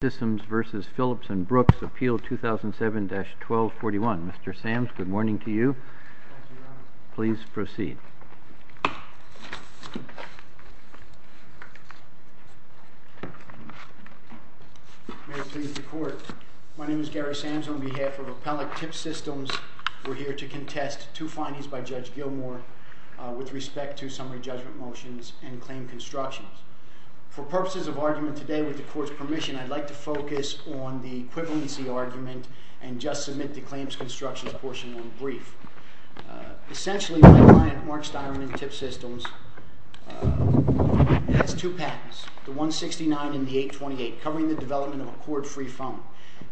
Appeal 2007-1241. Mr. Sams, good morning to you. Thank you, Your Honor. Please proceed. May it please the Court. My name is Gary Sams. On behalf of Appellate Tip Systems, we're here to contest two findings by Judge Gilmour with respect to summary judgment motions and claim constructions. For purposes of argument today, with the Court's permission, I'd like to focus on the equivalency argument and just submit the claims constructions portion of the brief. Essentially, my client, Mark Styron in Tip Systems, has two patents, the 169 and the 828, covering the development of a court-free phone.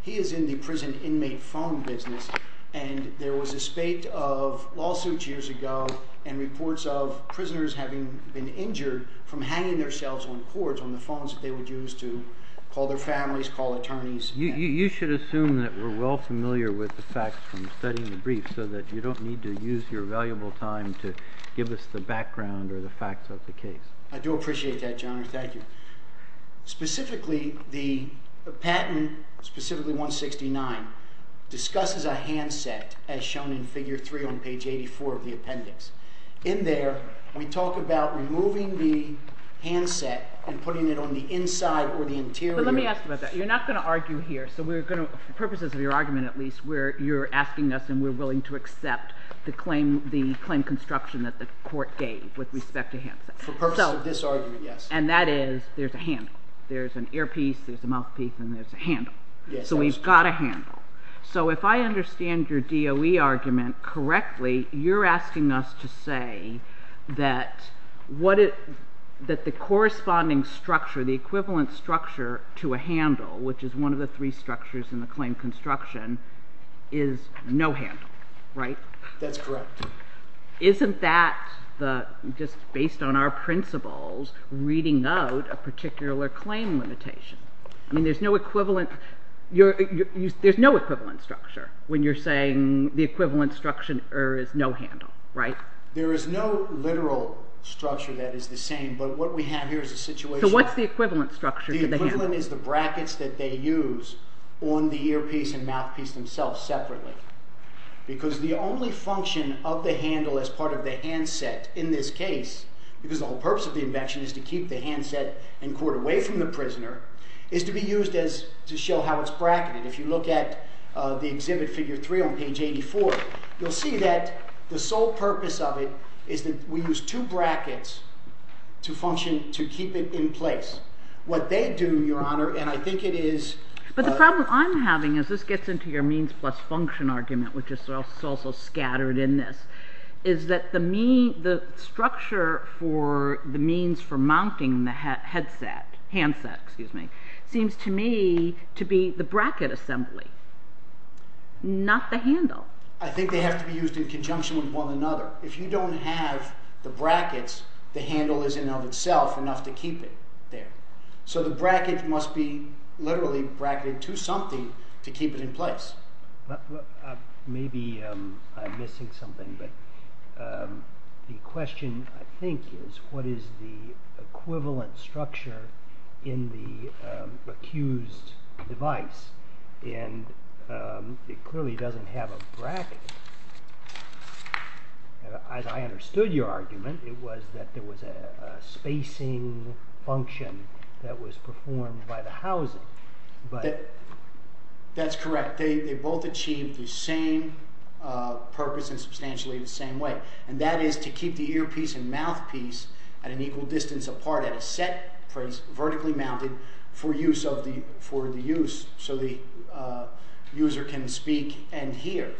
He is in the prison inmate phone business, and there was a spate of lawsuits years ago and reports of prisoners having been injured from hanging themselves on cords on the phones that they would use to call their families, call attorneys. You should assume that we're well familiar with the facts from studying the brief so that you don't need to use your valuable time to give us the background or the facts of the case. I do appreciate that, Your Honor. Thank you. Specifically, the patent, specifically 169, discusses a handset, as shown in figure 3 on page 84 of the appendix. In there, we talk about removing the handset and putting it on the inside or the interior. Let me ask you about that. You're not going to argue here. For purposes of your argument, at least, you're asking us and we're willing to accept the claim construction that the Court gave with respect to handsets. For purposes of this argument, yes. And that is, there's a handle. There's an earpiece, there's a mouthpiece, and there's a handle. So we've got a handle. So if I understand your DOE argument correctly, you're asking us to say that the corresponding structure, the equivalent structure to a handle, which is one of the three structures in the claim construction, is no handle, right? That's correct. Isn't that, just based on our principles, reading out a particular claim limitation? I mean, there's no equivalent structure when you're saying the equivalent structure is no handle, right? There is no literal structure that is the same, but what we have here is a situation... So what's the equivalent structure to the handle? The equivalent is the brackets that they use on the earpiece and mouthpiece themselves, separately. Because the only function of the handle as part of the handset in this case, because the whole purpose of the invention is to keep the handset and court away from the prisoner, is to be used to show how it's bracketed. If you look at the exhibit figure 3 on page 84, you'll see that the sole purpose of it is that we use two brackets to function to keep it in place. What they do, Your Honor, and I think it is... But the problem I'm having, as this gets into your means plus function argument, which is also scattered in this, is that the structure for the means for mounting the handset seems to me to be the bracket assembly, not the handle. I think they have to be used in conjunction with one another. If you don't have the brackets, the handle is in and of itself enough to keep it there. So the bracket must be literally bracketed to something to keep it in place. Maybe I'm missing something, but the question, I think, is what is the equivalent structure in the accused device? And it clearly doesn't have a bracket. As I understood your argument, it was that there was a spacing function that was performed by the housing. That's correct. They both achieved the same purpose in substantially the same way. And that is to keep the earpiece and mouthpiece at an equal distance apart at a set place, vertically mounted, for the use so the user can speak and hear.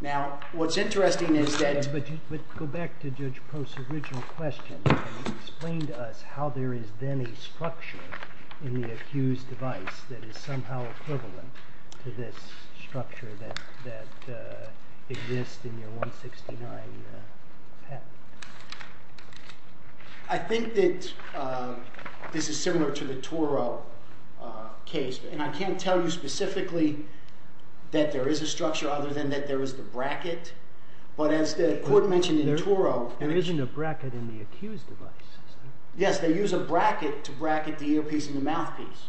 Now, what's interesting is that... Yes, but go back to Judge Post's original question. He explained to us how there is then a structure in the accused device that is somehow equivalent to this structure that exists in your 169 patent. I think that this is similar to the Toro case, and I can't tell you specifically that there is a structure other than that there is the bracket. But as the court mentioned in Toro... There isn't a bracket in the accused device. Yes, they use a bracket to bracket the earpiece and the mouthpiece.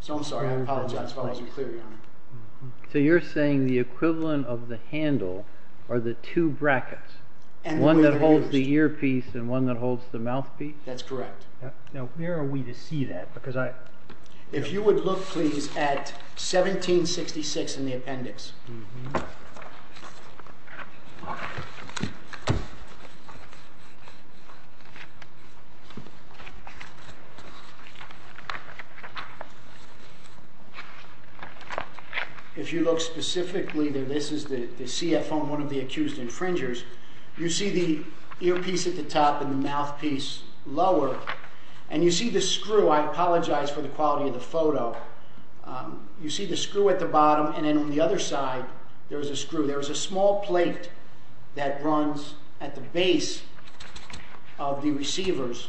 So I'm sorry, I apologize if I wasn't clear, Your Honor. So you're saying the equivalent of the handle are the two brackets, one that holds the earpiece and one that holds the mouthpiece? That's correct. Now, where are we to see that? If you would look please at 1766 in the appendix. If you look specifically, this is the CF on one of the accused infringers. You see the earpiece at the top and the mouthpiece lower. And you see the screw. I apologize for the quality of the photo. You see the screw at the bottom, and then on the other side, there's a screw. There's a small plate that runs at the base of the receivers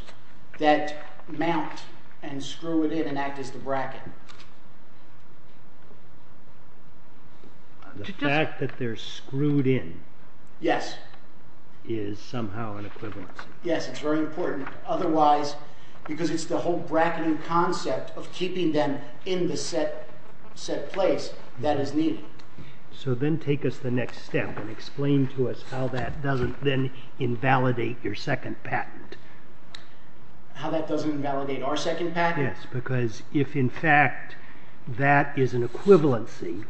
that mount and screw it in and act as the bracket. The fact that they're screwed in is somehow an equivalency. Yes, it's very important. Otherwise, because it's the whole bracketing concept of keeping them in the set place, that is needed. So then take us the next step and explain to us how that doesn't then invalidate your second patent. How that doesn't invalidate our second patent? Yes, because if in fact that is an equivalency,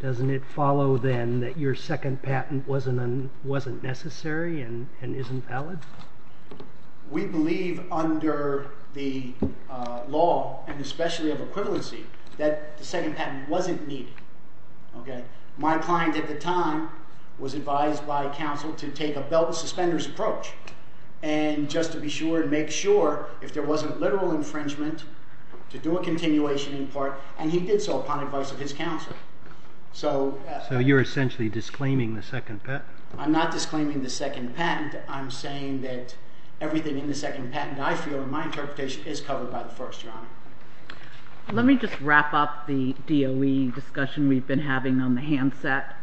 doesn't it follow then that your second patent wasn't necessary and isn't valid? We believe under the law, and especially of equivalency, that the second patent wasn't needed. My client at the time was advised by counsel to take a belt and suspenders approach. And just to be sure and make sure, if there wasn't literal infringement, to do a continuation in part. And he did so upon advice of his counsel. So you're essentially disclaiming the second patent? I'm not disclaiming the second patent. I'm saying that everything in the second patent, I feel, in my interpretation, is covered by the first, Your Honor. Let me just wrap up the DOE discussion we've been having on the handset.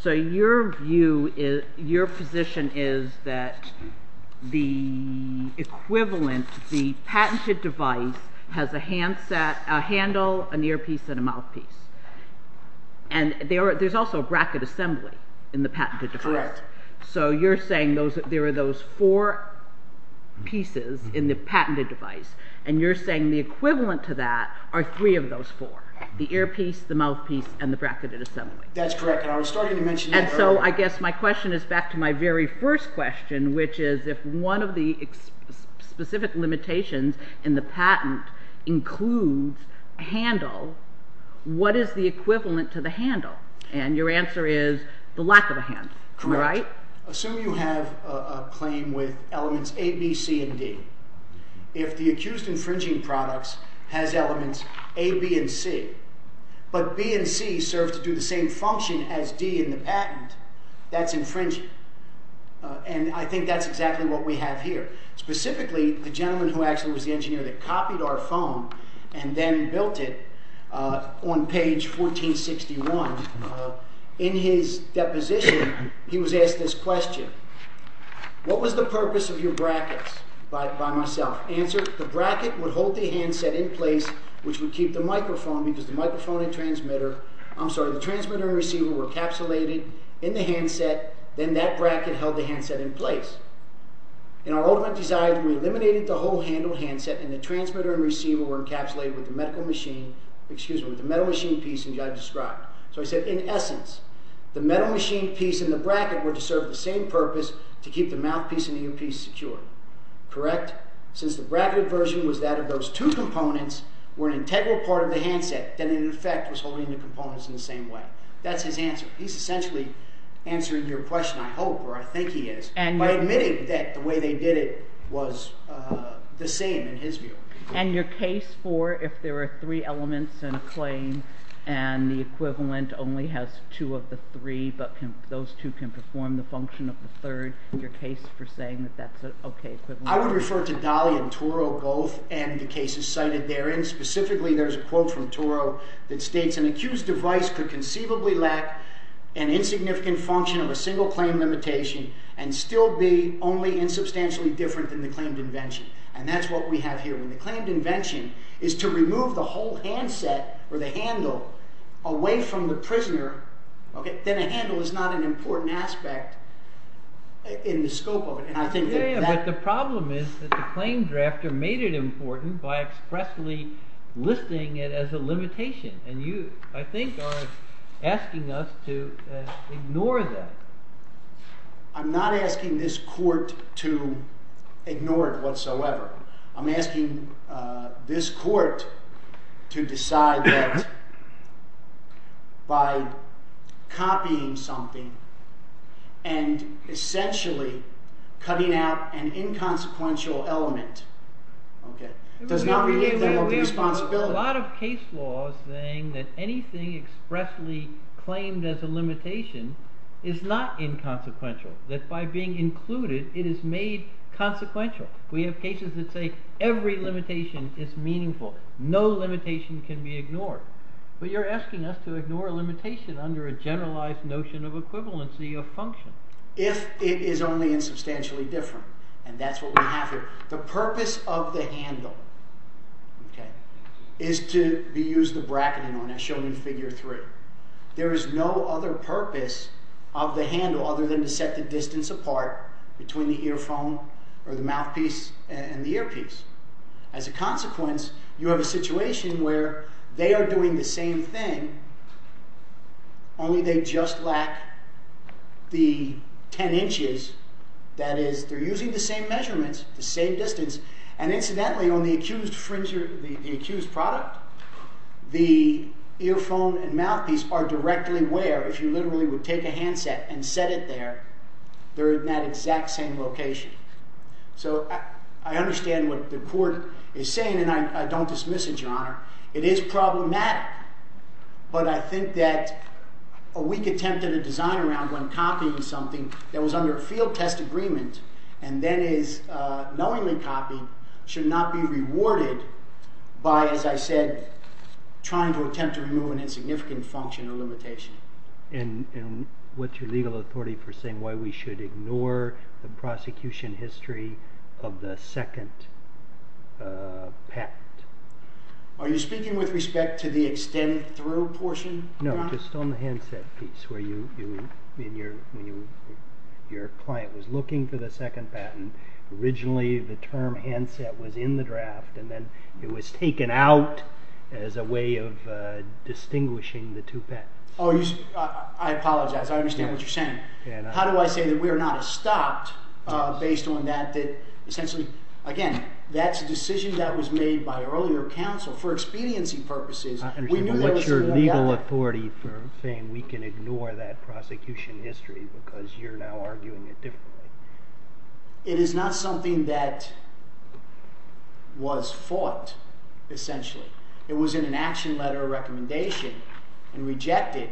So your position is that the equivalent, the patented device, has a handle, an earpiece, and a mouthpiece. And there's also a bracket assembly in the patented device. So you're saying there are those four pieces in the patented device. And you're saying the equivalent to that are three of those four. The earpiece, the mouthpiece, and the bracketed assembly. That's correct. And I was starting to mention that earlier. And so I guess my question is back to my very first question, which is if one of the specific limitations in the patent includes a handle, what is the equivalent to the handle? And your answer is the lack of a handle. Correct. Right? Assume you have a claim with elements A, B, C, and D. If the accused infringing products has elements A, B, and C, but B and C serve to do the same function as D in the patent, that's infringing. And I think that's exactly what we have here. Specifically, the gentleman who actually was the engineer that copied our phone and then built it on page 1461, in his deposition he was asked this question. What was the purpose of your brackets by myself? Answer, the bracket would hold the handset in place, which would keep the microphone, because the microphone and transmitter, I'm sorry, the transmitter and receiver were encapsulated in the handset. Then that bracket held the handset in place. In our ultimate desire, we eliminated the whole handle handset, and the transmitter and receiver were encapsulated with the metal machine piece that I described. So I said, in essence, the metal machine piece and the bracket were to serve the same purpose, to keep the mouthpiece and the earpiece secure. Correct? Since the bracketed version was that if those two components were an integral part of the handset, then in effect it was holding the components in the same way. That's his answer. He's essentially answering your question, I hope, or I think he is, by admitting that the way they did it was the same in his view. And your case for if there are three elements in a claim, and the equivalent only has two of the three, but those two can perform the function of the third, is that your case for saying that that's an okay equivalent? I would refer to Daly and Turo, both, and the cases cited therein. Specifically, there's a quote from Turo that states, an accused device could conceivably lack an insignificant function of a single claim limitation and still be only insubstantially different than the claimed invention. And that's what we have here. When the claimed invention is to remove the whole handset, or the handle, away from the prisoner, then a handle is not an important aspect in the scope of it. But the problem is that the claim drafter made it important by expressly listing it as a limitation, and you, I think, are asking us to ignore that. I'm not asking this court to ignore it whatsoever. I'm asking this court to decide that by copying something and essentially cutting out an inconsequential element does not create the whole responsibility. There's a lot of case laws saying that anything expressly claimed as a limitation is not inconsequential, that by being included, it is made consequential. We have cases that say every limitation is meaningful. No limitation can be ignored. But you're asking us to ignore a limitation under a generalized notion of equivalency of function. If it is only insubstantially different. And that's what we have here. The purpose of the handle is to be used to bracket it on, as shown in figure three. There is no other purpose of the handle other than to set the distance apart between the earphone or the mouthpiece and the earpiece. As a consequence, you have a situation where they are doing the same thing, only they just lack the ten inches. That is, they're using the same measurements, the same distance. And incidentally, on the accused product, the earphone and mouthpiece are directly where, if you literally would take a handset and set it there, they're in that exact same location. So I understand what the court is saying, and I don't dismiss it, Your Honor. It is problematic. But I think that a weak attempt at a design around one copying something that was under a field test agreement and then is knowingly copied should not be rewarded by, as I said, trying to attempt to remove an insignificant function or limitation. And what's your legal authority for saying why we should ignore the prosecution history of the second patent? Are you speaking with respect to the extend through portion, Your Honor? No, just on the handset piece where your client was looking for the second patent. Originally, the term handset was in the draft, and then it was taken out as a way of distinguishing the two patents. I apologize. I understand what you're saying. How do I say that we are not stopped based on that? Essentially, again, that's a decision that was made by earlier counsel for expediency purposes. What's your legal authority for saying we can ignore that prosecution history because you're now arguing it differently? It is not something that was fought, essentially. It was in an action letter of recommendation and rejected,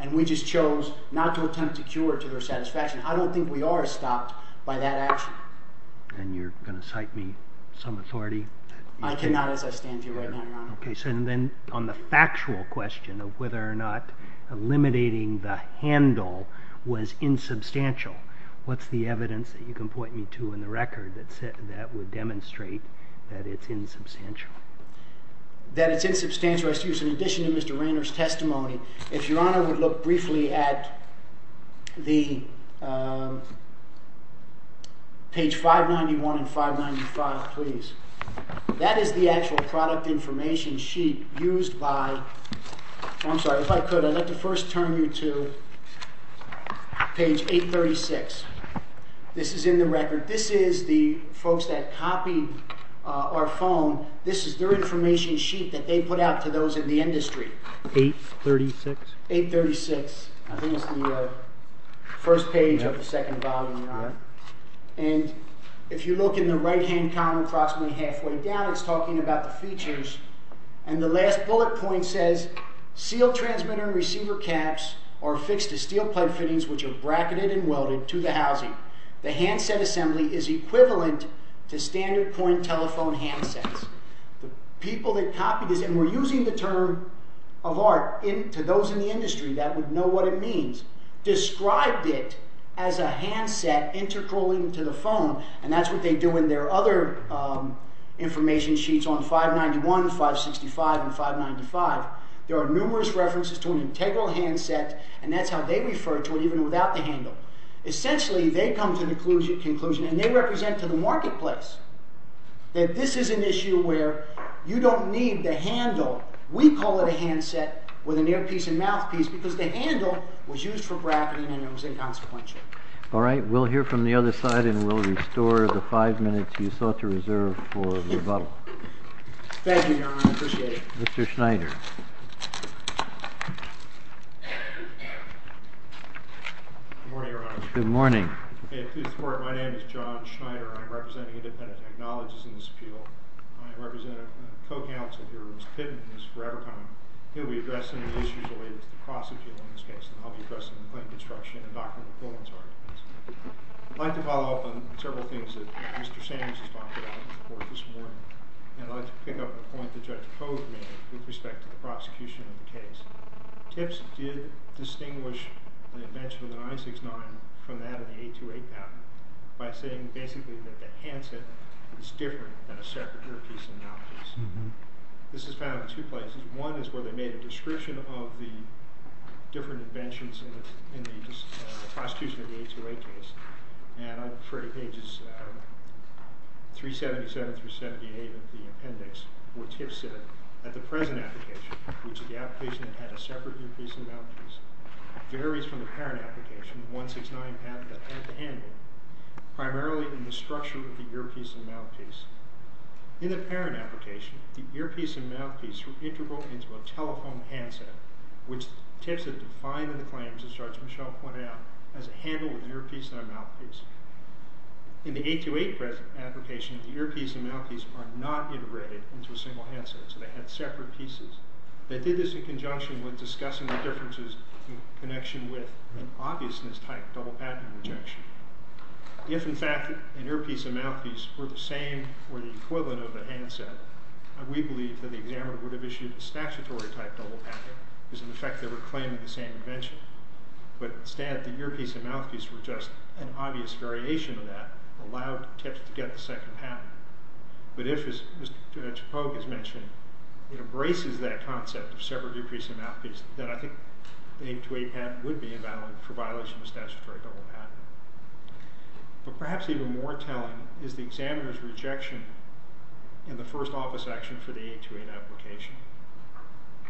and we just chose not to attempt to cure it to their satisfaction. I don't think we are stopped by that action. And you're going to cite me some authority? I cannot, as I stand before you right now, Your Honor. Okay, so then on the factual question of whether or not eliminating the handle was insubstantial, what's the evidence that you can point me to in the record that would demonstrate that it's insubstantial? That it's insubstantial, excuse me. In addition to Mr. Rainer's testimony, if Your Honor would look briefly at page 591 and 595, please. That is the actual product information sheet used by I'm sorry, if I could, I'd like to first turn you to page 836. This is in the record. This is the folks that copied our phone. This is their information sheet that they put out to those in the industry. 836? 836. I think it's the first page of the second volume, Your Honor. And if you look in the right-hand column approximately halfway down, it's talking about the features. And the last bullet point says, sealed transmitter and receiver caps are affixed to steel plate fittings which are bracketed and welded to the housing. The handset assembly is equivalent to standard coin telephone handsets. The people that copied this, and we're using the term of art, to those in the industry that would know what it means, described it as a handset intercalling to the phone, and that's what they do in their other information sheets on 591, 565, and 595. There are numerous references to an integral handset, and that's how they refer to it even without the handle. Essentially, they come to the conclusion, and they represent to the marketplace that this is an issue where you don't need the handle. We call it a handset with an earpiece and mouthpiece because the handle was used for bracketing and it was inconsequential. All right. We'll hear from the other side, and we'll restore the five minutes you sought to reserve for rebuttal. Thank you, Your Honor. I appreciate it. Mr. Schneider. Good morning, Your Honor. Good morning. May it please the Court. My name is John Schneider. I'm representing independent technologists in this appeal. I represent a co-counsel here who's hidden and has forever come. He'll be addressing the issues related to the cross-appeal in this case, and I'll be addressing the point of destruction and Dr. McGovern's arguments. I'd like to follow up on several things that Mr. Samuels has talked about in the Court this morning, and I'd like to pick up the point that Judge Cogeman made with respect to the prosecution of the case. TIPS did distinguish the invention of the 969 from that of the 828 patent by saying basically that the handset is different than a separate earpiece and mouthpiece. This is found in two places. One is where they made a description of the different inventions in the prosecution of the 828 case, and I'm afraid pages 377 through 78 of the appendix were TIPS in it. The present application, which is the application that had a separate earpiece and mouthpiece, varies from the parent application, the 169 patent that had the handle, primarily in the structure of the earpiece and mouthpiece. In the parent application, the earpiece and mouthpiece were integral into a telephone handset, which TIPS has defined in the claims, as Judge Michel pointed out, as a handle with an earpiece and a mouthpiece. In the 828 present application, the earpiece and mouthpiece are not integrated into a single handset, so they had separate pieces. They did this in conjunction with discussing the differences in connection with an obviousness-type double patent rejection. If, in fact, an earpiece and mouthpiece were the same or the equivalent of a handset, we believe that the examiner would have issued a statutory-type double patent because, in effect, they were claiming the same invention. But, instead, the earpiece and mouthpiece were just an obvious variation of that that allowed TIPS to get the second patent. But if, as Judge Pogue has mentioned, it embraces that concept of separate earpiece and mouthpiece, then I think the 828 patent would be invalid for violation of the statutory double patent. But perhaps even more telling is the examiner's rejection in the first office action for the 828 application.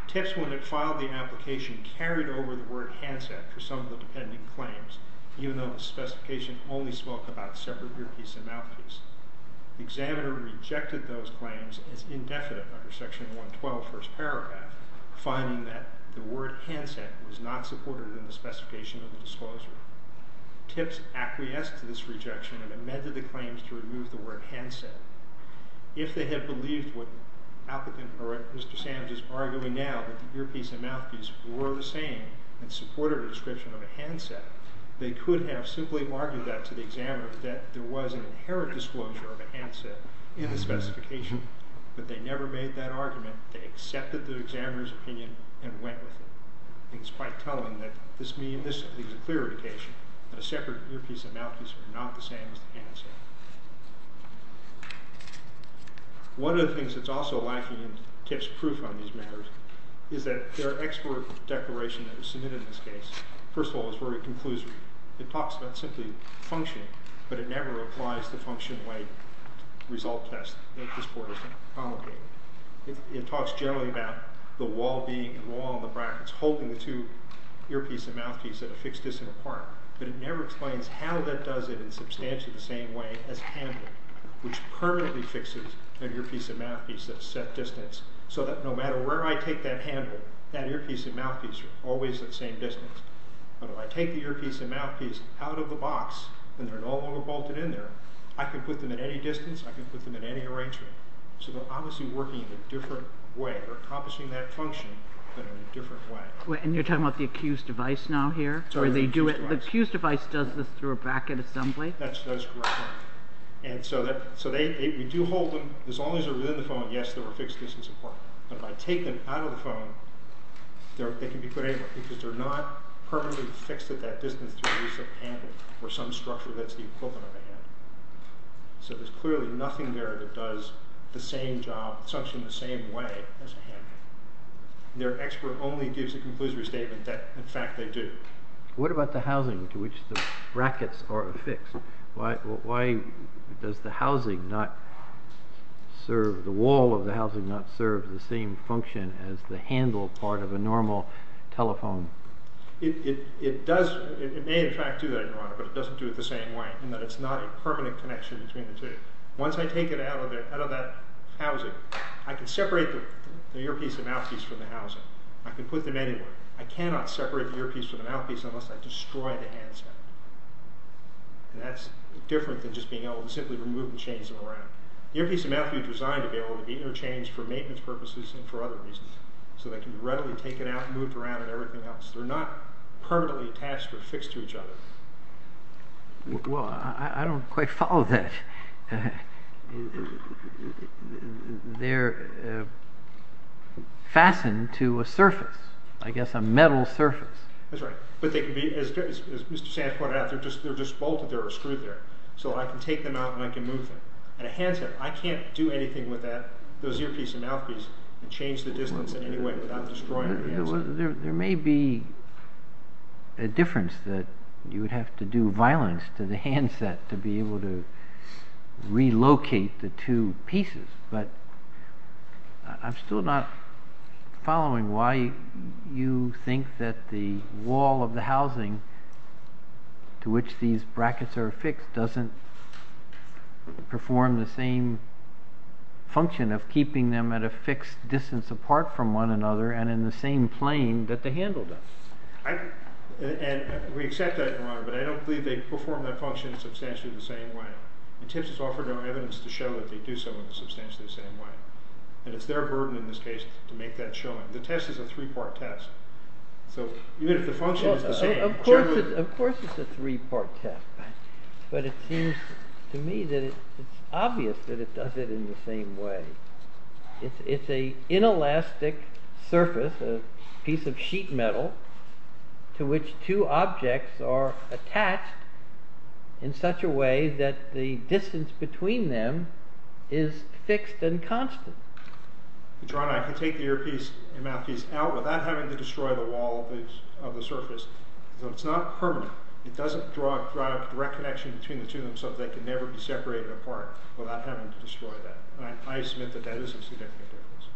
TIPS, when it filed the application, carried over the word handset for some of the pending claims, even though the specification only spoke about separate earpiece and mouthpiece. The examiner rejected those claims as indefinite under Section 112, First Paragraph, finding that the word handset was not supported in the specification of the disclosure. TIPS acquiesced to this rejection and amended the claims to remove the word handset. If they had believed what Mr. Savage is arguing now, that the earpiece and mouthpiece were the same and supported a description of a handset, they could have simply argued that to the examiner that there was an inherent disclosure of a handset in the specification. But they never made that argument. They accepted the examiner's opinion and went with it. I think it's quite telling that this is a clear indication that a separate earpiece and mouthpiece are not the same as the handset. One of the things that's also lacking in TIPS' proof on these matters is that their export declaration that was submitted in this case, first of all, is very conclusive. It talks about simply functioning, but it never applies the function-weight result test that this Court has promulgated. It talks generally about the wall being a wall in the brackets, holding the two earpiece and mouthpiece at a fixed distance apart, but it never explains how that does it in substantially the same way as handling, which permanently fixes an earpiece and mouthpiece at a set distance, so that no matter where I take that handle, that earpiece and mouthpiece are always at the same distance. But if I take the earpiece and mouthpiece out of the box, and they're no longer bolted in there, I can put them at any distance, I can put them in any arrangement. So they're obviously working in a different way. They're accomplishing that function, but in a different way. And you're talking about the accused device now here? The accused device does this through a bracket assembly? That's correct. And so we do hold them, as long as they're within the phone, yes, they're a fixed distance apart. But if I take them out of the phone, they can be put anywhere, because they're not permanently fixed at that distance to release that handle or some structure that's the equivalent of a handle. So there's clearly nothing there that does the same job, function the same way as a handle. Their expert only gives a conclusory statement that in fact they do. What about the housing to which the brackets are affixed? Why does the housing not serve, the wall of the housing not serve the same function as the handle part of a normal telephone? It does, it may in fact do that, Your Honor, but it doesn't do it the same way, in that it's not a permanent connection between the two. Once I take it out of that housing, I can separate the earpiece and mouthpiece from the housing. I can put them anywhere. I cannot separate the earpiece from the mouthpiece unless I destroy the handset. And that's different than just being able to simply remove and change them around. The earpiece and mouthpiece are designed to be able to be interchanged for maintenance purposes and for other reasons, so they can be readily taken out and moved around and everything else. They're not permanently attached or fixed to each other. Well, I don't quite follow that. They're fastened to a surface. I guess a metal surface. That's right, but they can be, as Mr. Sands pointed out, they're just bolted, they're screwed there. So I can take them out and I can move them. And a handset, I can't do anything with that, those earpiece and mouthpiece, and change the distance in any way without destroying the handset. There may be a difference that you would have to do violence to the handset to be able to relocate the two pieces, but I'm still not following why you think that the wall of the housing to which these brackets are affixed doesn't perform the same function of keeping them at a fixed distance apart from one another and in the same plane that the handle does. We accept that, Your Honor, but I don't believe they perform that function substantially the same way. And TIPS has offered our evidence to show that they do so in a substantially the same way. And it's their burden in this case to make that showing. The test is a three-part test. So even if the function is the same, generally... Of course it's a three-part test, but it seems to me that it's obvious that it does it in the same way. It's an inelastic surface, a piece of sheet metal, to which two objects are attached in such a way that the distance between them is fixed and constant. Your Honor, I can take the earpiece and mouthpiece out without having to destroy the wall of the surface. So it's not permanent. It doesn't draw a direct connection between the two of them so that they can never be separated apart without having to destroy that. I submit that that is a significant difference.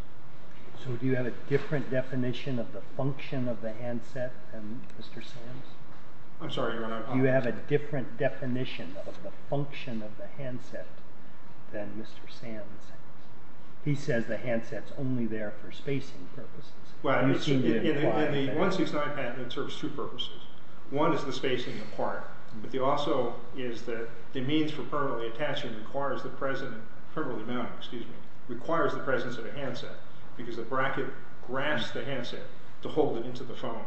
So do you have a different definition of the function of the handset than Mr. Sands? I'm sorry, Your Honor. Do you have a different definition of the function of the handset than Mr. Sands? He says the handset's only there for spacing purposes. Well, in the 169 patent, it serves two purposes. One is the spacing apart, but also is that the means for permanently attaching requires the presence of a handset, because the bracket grasps the handset to hold it into the foam.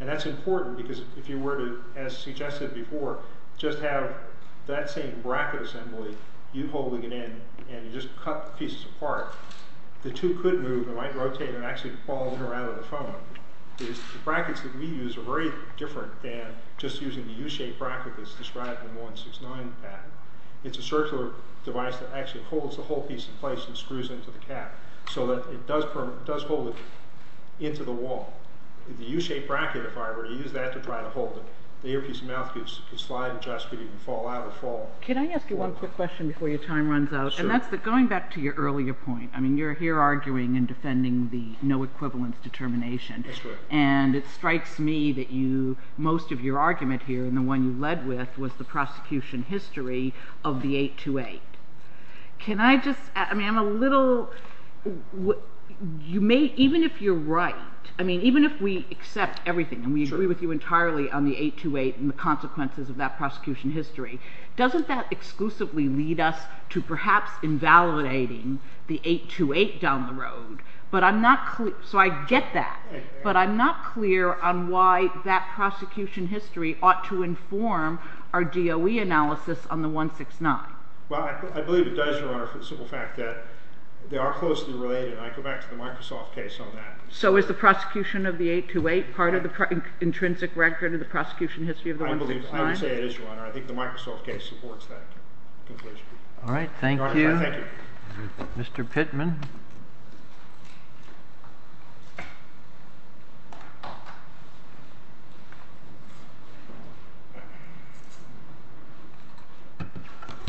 And that's important, because if you were to, as suggested before, just have that same bracket assembly, you holding it in, and you just cut the pieces apart, the two could move and might rotate and actually fall in or out of the foam. The brackets that we use are very different than just using the U-shaped bracket that's described in the 169 patent. It's a circular device that actually holds the whole piece in place and screws into the cap so that it does hold it into the wall. The U-shaped bracket, if I were to use that to try to hold it, the earpiece and mouthpiece could slide and just fall out or fall. Can I ask you one quick question before your time runs out? Sure. And that's going back to your earlier point. You're here arguing and defending the no-equivalence determination. That's right. And it strikes me that most of your argument here, and the one you led with, was the prosecution history of the 828. Can I just... I mean, I'm a little... Even if you're right, I mean, even if we accept everything and we agree with you entirely on the 828 and the consequences of that prosecution history, doesn't that exclusively lead us to perhaps invalidating the 828 down the road? So I get that, but I'm not clear on why that prosecution history ought to inform our DOE analysis on the 169. Well, I believe it does, Your Honor, for the simple fact that they are closely related, and I go back to the Microsoft case on that. So is the prosecution of the 828 part of the intrinsic record of the prosecution history of the 169? I would say it is, Your Honor. I think the Microsoft case supports that conclusion. All right. Thank you. Mr. Pittman.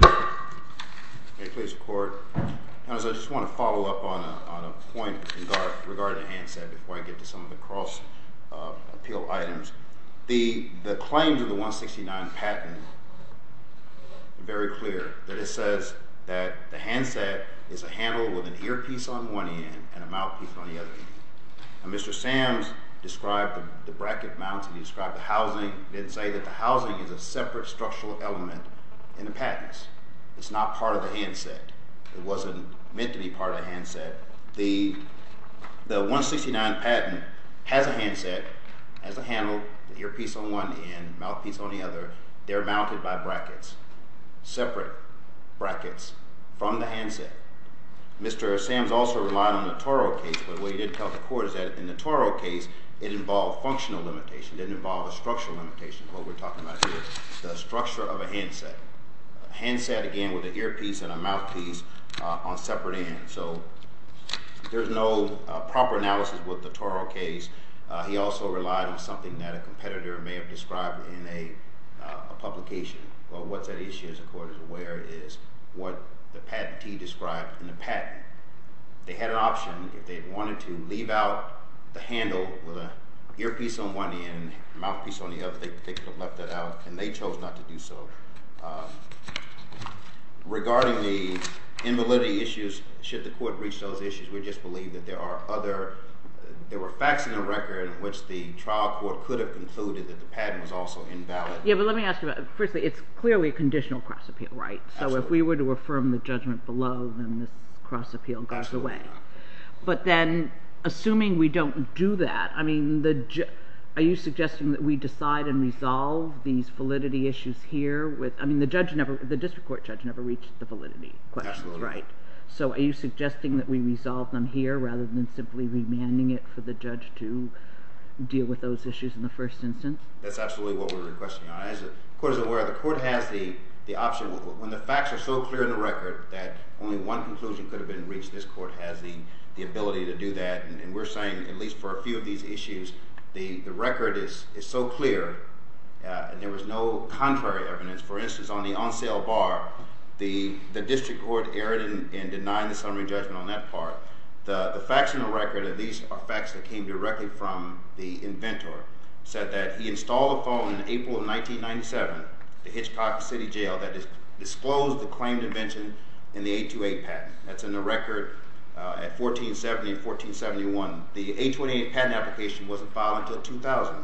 May it please the Court. I just want to follow up on a point regarding the handset before I get to some of the cross-appeal items. The claims of the 169 patent are very clear. It says that the handset is a handle with an earpiece on one end and a mouthpiece on the other end. Mr. Sams described the bracket mounts and he described the housing. He didn't say that the housing is a separate structural element in the patents. It's not part of the handset. It wasn't meant to be part of the handset. The 169 patent has a handset, has a handle, earpiece on one end, mouthpiece on the other. They're mounted by brackets, separate brackets from the handset. Mr. Sams also relied on the Toro case, but what he didn't tell the Court is that in the Toro case, it involved functional limitation. It didn't involve a structural limitation. What we're talking about here is the structure of a handset. A handset, again, with an earpiece and a mouthpiece on separate ends. So there's no proper analysis with the Toro case. He also relied on something that a competitor may have described in a publication. Well, what that issue is, the Court is aware, is what the patentee described in the patent. They had an option if they wanted to leave out the handle with an earpiece on one end, mouthpiece on the other, they could have left that out, and they chose not to do so. Regarding the invalidity issues, should the Court reach those issues, we just believe that there are other facts in the record in which the trial court could have concluded that the patent was also invalid. Yeah, but let me ask you about it. Firstly, it's clearly a conditional cross-appeal, right? Absolutely. So if we were to affirm the judgment below, then this cross-appeal goes away. But then, assuming we don't do that, I mean, are you suggesting that we decide and resolve these validity issues here with, I mean, the district court judge never reached the validity questions, right? Absolutely. So are you suggesting that we resolve them here rather than simply remanding it for the judge to deal with those issues in the first instance? That's absolutely what we're requesting. As the Court is aware, the Court has the option. When the facts are so clear in the record that only one conclusion could have been reached, this Court has the ability to do that. And we're saying, at least for a few of these issues, the record is so clear, and there was no contrary evidence. For instance, on the on-sale bar, the district court erred in denying the summary judgment on that part. The facts in the record, at least are facts that came directly from the inventor, said that he installed a phone in April of 1997 at the Hitchcock City Jail that disclosed the claimed invention in the 828 patent. That's in the record at 1470 and 1471. The 828 patent application wasn't filed until 2000.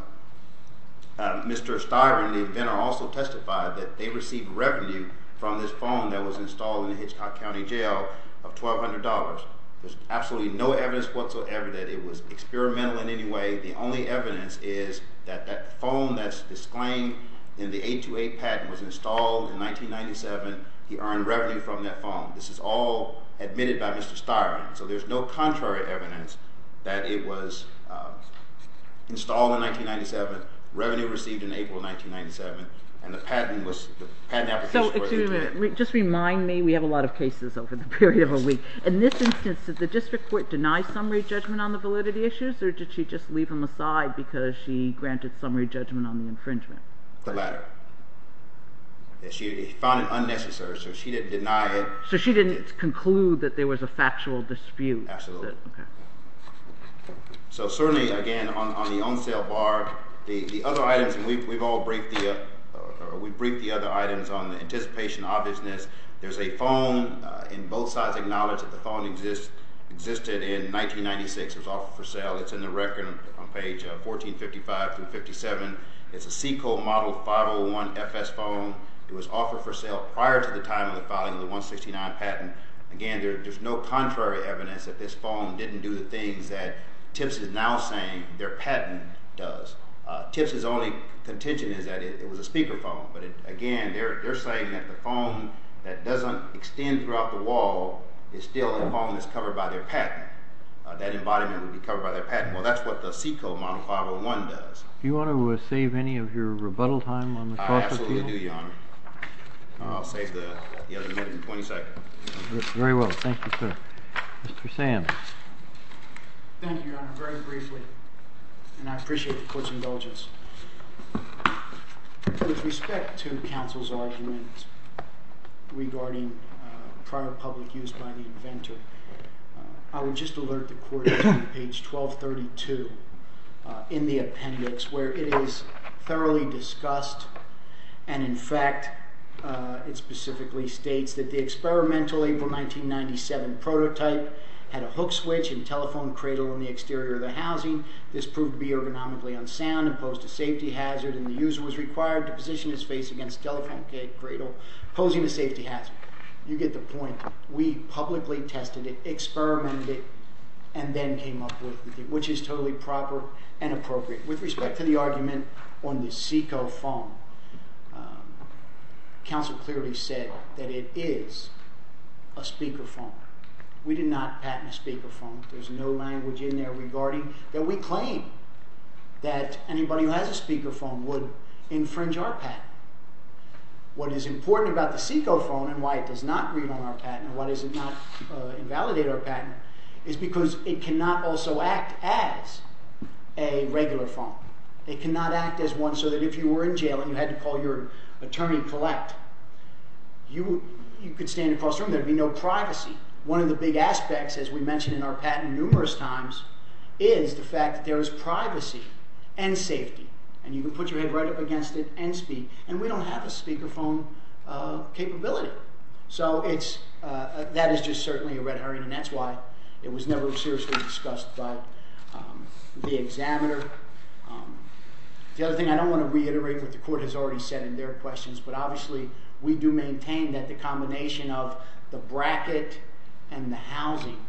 Mr. Styron, the inventor, also testified that they received revenue from this phone that was installed in the Hitchcock County Jail of $1,200. There's absolutely no evidence whatsoever that it was experimental in any way. The only evidence is that that phone that's disclaimed in the 828 patent was installed in 1997. He earned revenue from that phone. This is all admitted by Mr. Styron. So there's no contrary evidence that it was installed in 1997, revenue received in April of 1997, and the patent application was retained. So, excuse me a minute. Just remind me, we have a lot of cases over the period of a week. In this instance, did the district court deny summary judgment on the validity issues, or did she just leave them aside because she granted summary judgment on the infringement? The latter. She found it unnecessary, so she didn't deny it. So she didn't conclude that there was a factual dispute. Absolutely. So certainly, again, on the on-sale bar, the other items, and we've all briefed the other items on the anticipation of obviousness. There's a phone, and both sides acknowledge that the phone existed in 1996, it was offered for sale. It's in the record on page 1455-57. It's a Seco Model 501FS phone. It was offered for sale prior to the time of the filing of the 169 patent. Again, there's no contrary evidence that this phone didn't do the things that TIPS is now saying their patent does. TIPS's only contention is that it was a speaker phone, but again, they're saying that the phone that doesn't extend throughout the wall is still a phone that's covered by their patent. That embodiment would be covered by their patent. Well, that's what the Seco Model 501 does. I absolutely do, Your Honor. I'll save the other minute and 20 seconds. Very well. Thank you, sir. Mr. Sam. Thank you, Your Honor. Very briefly, and I appreciate the court's indulgence. With respect to counsel's argument regarding prior public use by the inventor, I would just alert the court to page 1232 in the appendix where it is thoroughly discussed. In fact, it specifically states that the experimental April 1997 prototype had a hook switch and telephone cradle on the exterior of the housing. This proved to be ergonomically unsound and posed a safety hazard, and the user was required to position his face against telephone cradle, posing a safety hazard. You get the point. We publicly tested it, experimented it, and then came up with it, which is totally proper and appropriate. With respect to the argument on the Seco phone, counsel clearly said that it is a speaker phone. We did not patent a speaker phone. There's no language in there regarding that we claim that anybody who has a speaker phone would infringe our patent. What is important about the Seco phone and why it does not read on our patent and why does it not invalidate our patent is because it cannot also act as a regular phone. It cannot act as one so that if you were in jail and you had to call your attorney to collect, you could stand across the room and there would be no privacy. One of the big aspects, as we mentioned in our patent numerous times, is the fact that there is privacy and safety, and you can put your head right up against it and speak, and we don't have a speaker phone capability. That is just certainly a red herring, and that's why it was never seriously discussed by the examiner. The other thing, I don't want to reiterate what the court has already said in their questions, but obviously we do maintain that the combination of the bracket and the housing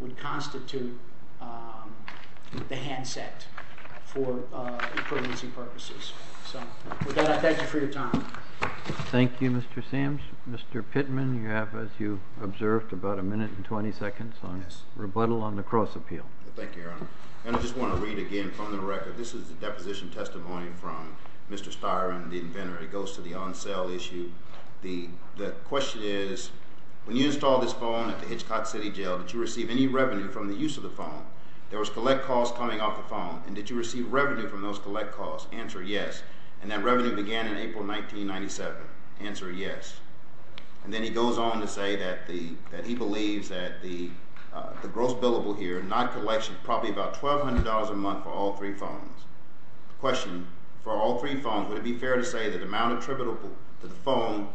would constitute the handset for privacy purposes. With that, I thank you for your time. Thank you, Mr. Sams. Mr. Pittman, you have, as you observed, about a minute and 20 seconds on rebuttal on the cross-appeal. Thank you, Your Honor. I just want to read again from the record. This is the deposition testimony from Mr. Styron, the inventor. It goes to the on-sale issue. The question is, when you installed this phone at the Hitchcock City Jail, did you receive any revenue from the use of the phone? There was collect calls coming off the phone, and did you receive revenue from those collect calls? Answer, yes. And that revenue began in April 1997. Answer, yes. And then he goes on to say that he believes that the gross billable here, not collection, probably about $1,200 a month for all three phones. The question, for all three phones, would it be fair to say that the amount attributable to the phone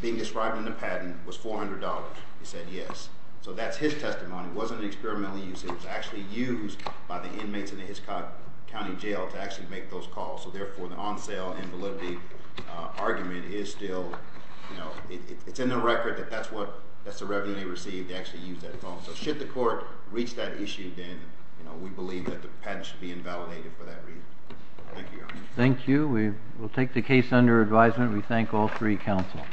being described in the patent was $400? He said yes. So that's his testimony. It wasn't an experimental use. It was actually used by the inmates in the Hitchcock County Jail to actually make those calls. So therefore, the on-sale invalidity argument is still in the record that that's the revenue they received to actually use that phone. So should the court reach that issue, then we believe that the patent should be invalidated for that reason. Thank you, Your Honor. Thank you. We will take the case under advisement. We thank all three counsel.